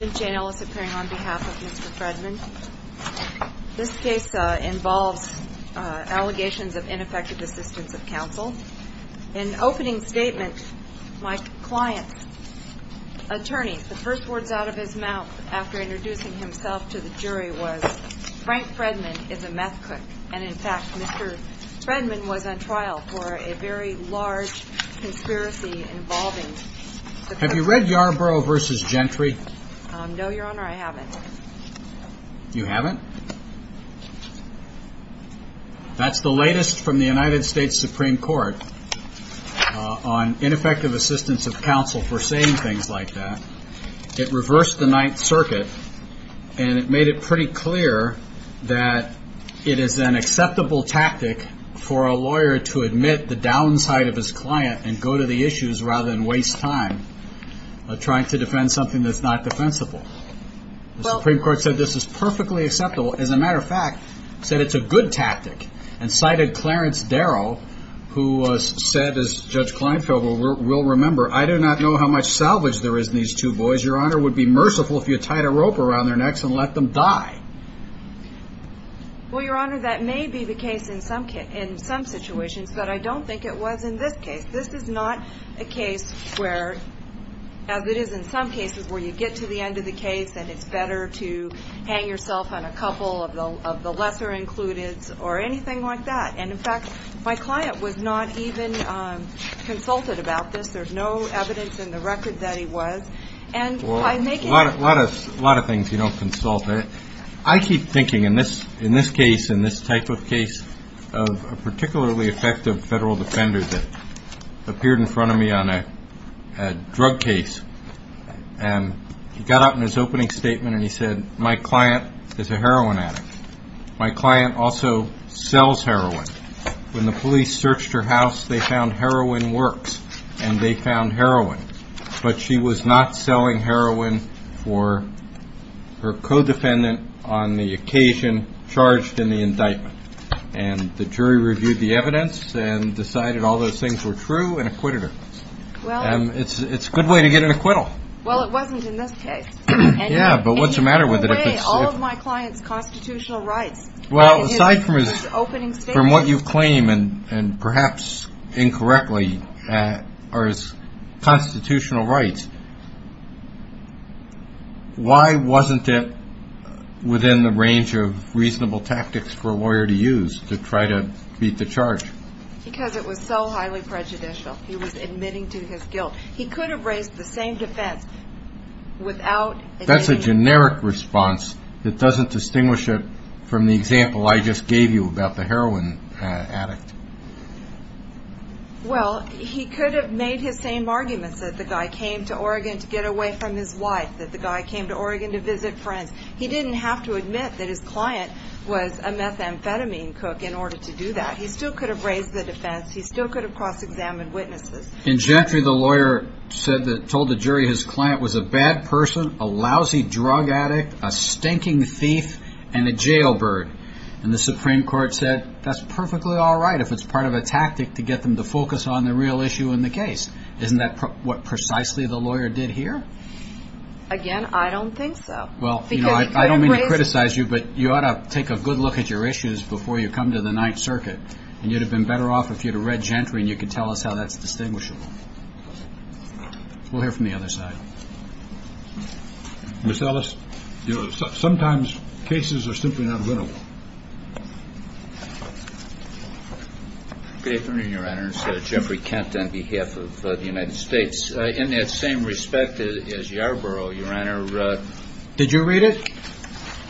Jane Ellis appearing on behalf of Mr. Fredman. This case involves allegations of ineffective assistance of counsel. In opening statement my client's attorney, the first words out of his mouth after introducing himself to the jury was Frank Fredman is a meth cook and in fact Mr. Fredman was on trial for a very large conspiracy involving. Have you read Yarborough v. Gentry? No, your honor, I haven't. You haven't? That's the latest from the United States Supreme Court on ineffective assistance of counsel for saying things like that. It reversed the ninth circuit and it made it pretty clear that it is an acceptable tactic for a lawyer to admit the downside of his client and go to the issues rather than waste time trying to defend something that's not defensible. The Supreme Court said this is perfectly acceptable as a matter of fact said it's a good tactic and cited Clarence Darrow who said as Judge Kleinfeld will remember I do not know how much salvage there is in these two boys your honor would be merciful if you tied a rope around their necks and let them die. Well your honor that may be the case in some situations but I don't think it was in this case. This is not a case where as it is in some cases where you get to the end of the case and it's better to hang yourself on a couple of the lesser included or anything like that and in fact my client was not even consulted about this. There's no evidence in the record that he was. A lot of things you don't consult. I keep thinking in this in this case in this type of case of a particularly effective federal defender that appeared in front of me on a drug case and he got out in his opening statement and he said my client is a heroin addict. My client also sells heroin. When the police searched her house they found heroin works and they found heroin but she was not selling heroin for her co-defendant on the occasion charged in the indictment and the jury reviewed the evidence and decided all those things were true and acquitted her. It's a good way to get an acquittal. Well it wasn't in this case. Yeah but what's the matter with it? All of my client's constitutional rights. Well aside from his opening statement. From what you claim and perhaps incorrectly are his constitutional rights. Why wasn't it within the range of reasonable tactics for a lawyer to use to try to beat the he was admitting to his guilt. He could have raised the same defense without. That's a generic response that doesn't distinguish it from the example I just gave you about the heroin addict. Well he could have made his same arguments that the guy came to Oregon to get away from his wife that the guy came to Oregon to visit friends. He didn't have to admit that his client was a methamphetamine cook in order to do that. He still could have raised the defense. He still could have cross-examined witnesses. In Gentry the lawyer said that told the jury his client was a bad person, a lousy drug addict, a stinking thief, and a jailbird. And the Supreme Court said that's perfectly all right if it's part of a tactic to get them to focus on the real issue in the case. Isn't that what precisely the lawyer did here? Again I don't think so. Well you know I don't mean to criticize you but you ought to take a good look at your issues before you come to the Gentry and you can tell us how that's distinguishable. We'll hear from the other side. Miss Ellis, you know sometimes cases are simply not winnable. Good afternoon your honors. Jeffrey Kent on behalf of the United States. In that same respect as Yarborough your honor. Did you read it?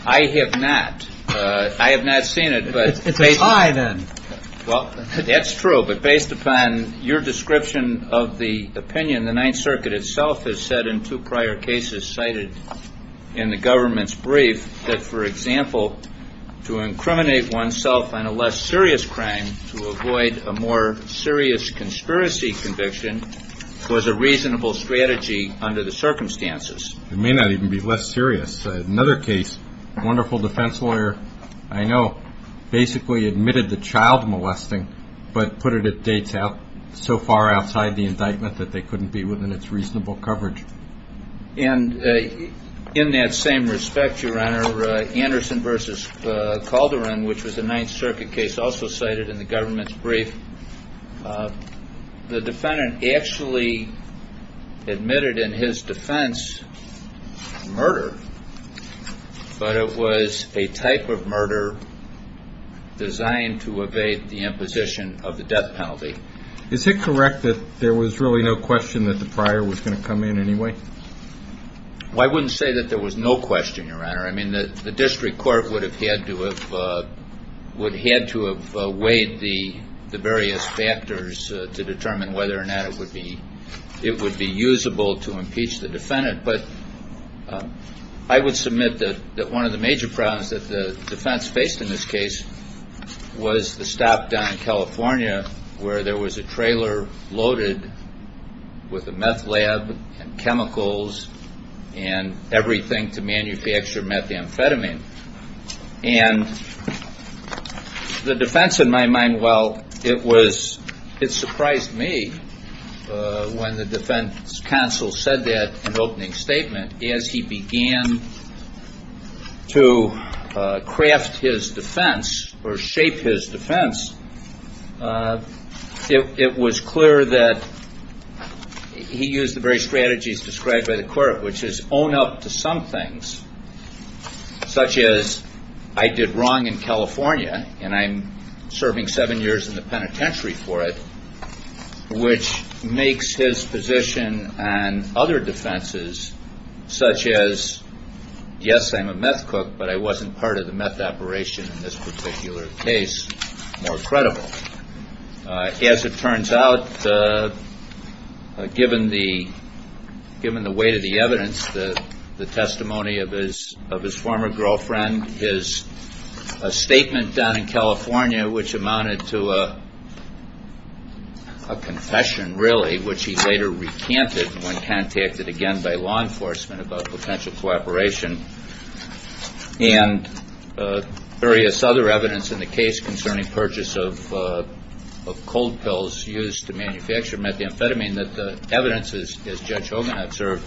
I have not. I have not seen it. It's a tie then. Well that's true but based upon your description of the opinion the Ninth Circuit itself has said in two prior cases cited in the government's brief that for example to incriminate oneself on a less serious crime to avoid a more serious conspiracy conviction was a reasonable strategy under the circumstances. It may not even be less serious. Another case a wonderful defense lawyer I know basically admitted the child molesting but put it at dates so far outside the indictment that they couldn't be within its reasonable coverage. And in that same respect your honor Anderson versus Calderon which was a Ninth Circuit case also cited in the government's brief. The defendant actually admitted in his defense murder but it was a type of murder designed to evade the imposition of the death penalty. Is it correct that there was really no question that the prior was going to come in anyway? I wouldn't say that there was no question your honor. I mean the district court would have had to have weighed the various factors to determine whether or not it would be usable to impeach the defendant. But I would submit that one of the major problems that the defense faced in this case was the stop down in California where there was a trailer loaded with a meth lab and chemicals and everything to manufacture methamphetamine. And the defense in my mind, well, it was, it surprised me when the defense counsel said that in opening statement as he began to craft his defense or shape his defense, it was clear that he used the very strategies described by the court which is own up to some things such as I did wrong in California and I'm serving seven years in the penitentiary for it which makes his position and other defenses such as yes I'm a meth cook but I wasn't part of the meth operation in this particular case more credible. As it turns out, given the weight of the evidence, the testimony of his former girlfriend, his statement down in California which amounted to a confession really which he later recanted when contacted again by law enforcement about potential cooperation and various other evidence in the case concerning purchase of cold pills used to manufacture methamphetamine that the evidence as Judge Hogan observed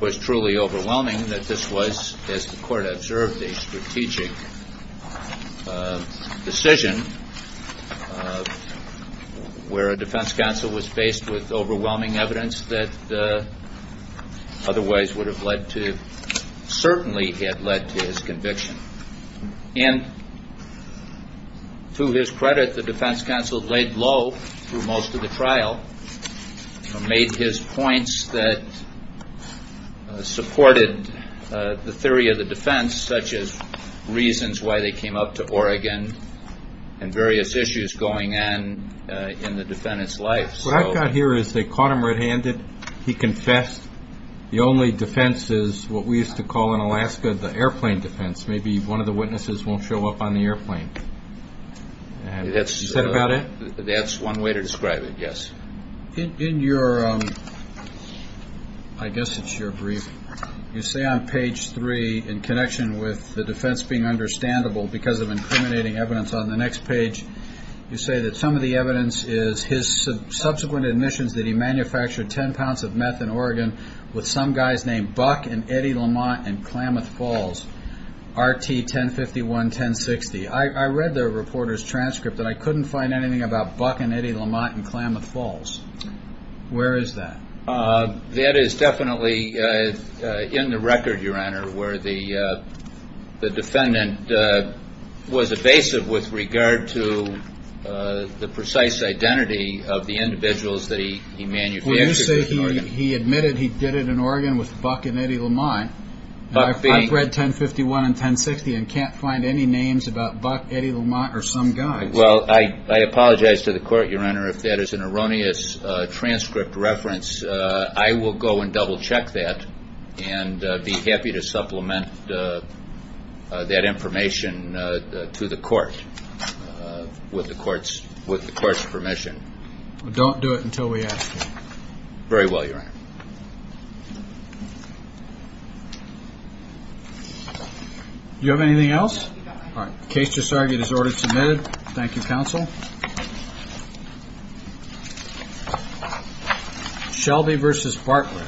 was truly overwhelming that this was, as the court observed, a strategic decision where a defense counsel was faced with overwhelming evidence that otherwise would have led to, certainly had led to his conviction. And to his credit, the defense counsel laid low through most of the trial and made his points that supported the theory of the defense such as reasons why they came up to Oregon and various issues going on in the defendant's life. What I've got here is they caught him red-handed. He confessed. The only defense is what we used to call in Alaska the airplane defense. Maybe one of the witnesses won't show up on the airplane. That's one way to describe it, yes. In your, I guess it's your brief, you say on page three in connection with the defense being understandable because of incriminating evidence on the next page, you say that some of the evidence is his subsequent admissions that he manufactured 10 pounds of meth in Oregon with some guys named Buck and Eddie Lamont and Klamath Falls, RT-1051-1060. I read the reporter's transcript that I couldn't find anything about Buck and Eddie Lamont and Klamath Falls. Where is that? That is definitely in the record, where the defendant was evasive with regard to the precise identity of the individuals that he manufactured. You say he admitted he did it in Oregon with Buck and Eddie Lamont. I've read 1051 and 1060 and can't find any names about Buck, Eddie Lamont, or some guys. Well, I apologize to the court, your honor, if that is an erroneous transcript reference. I will go and double check that and be happy to supplement that information to the court with the court's permission. Don't do it until we ask you. Very well, your honor. Do you have anything else? The case just argued is order submitted. Thank you, counsel. Thank you. Shelby v. Bartlett.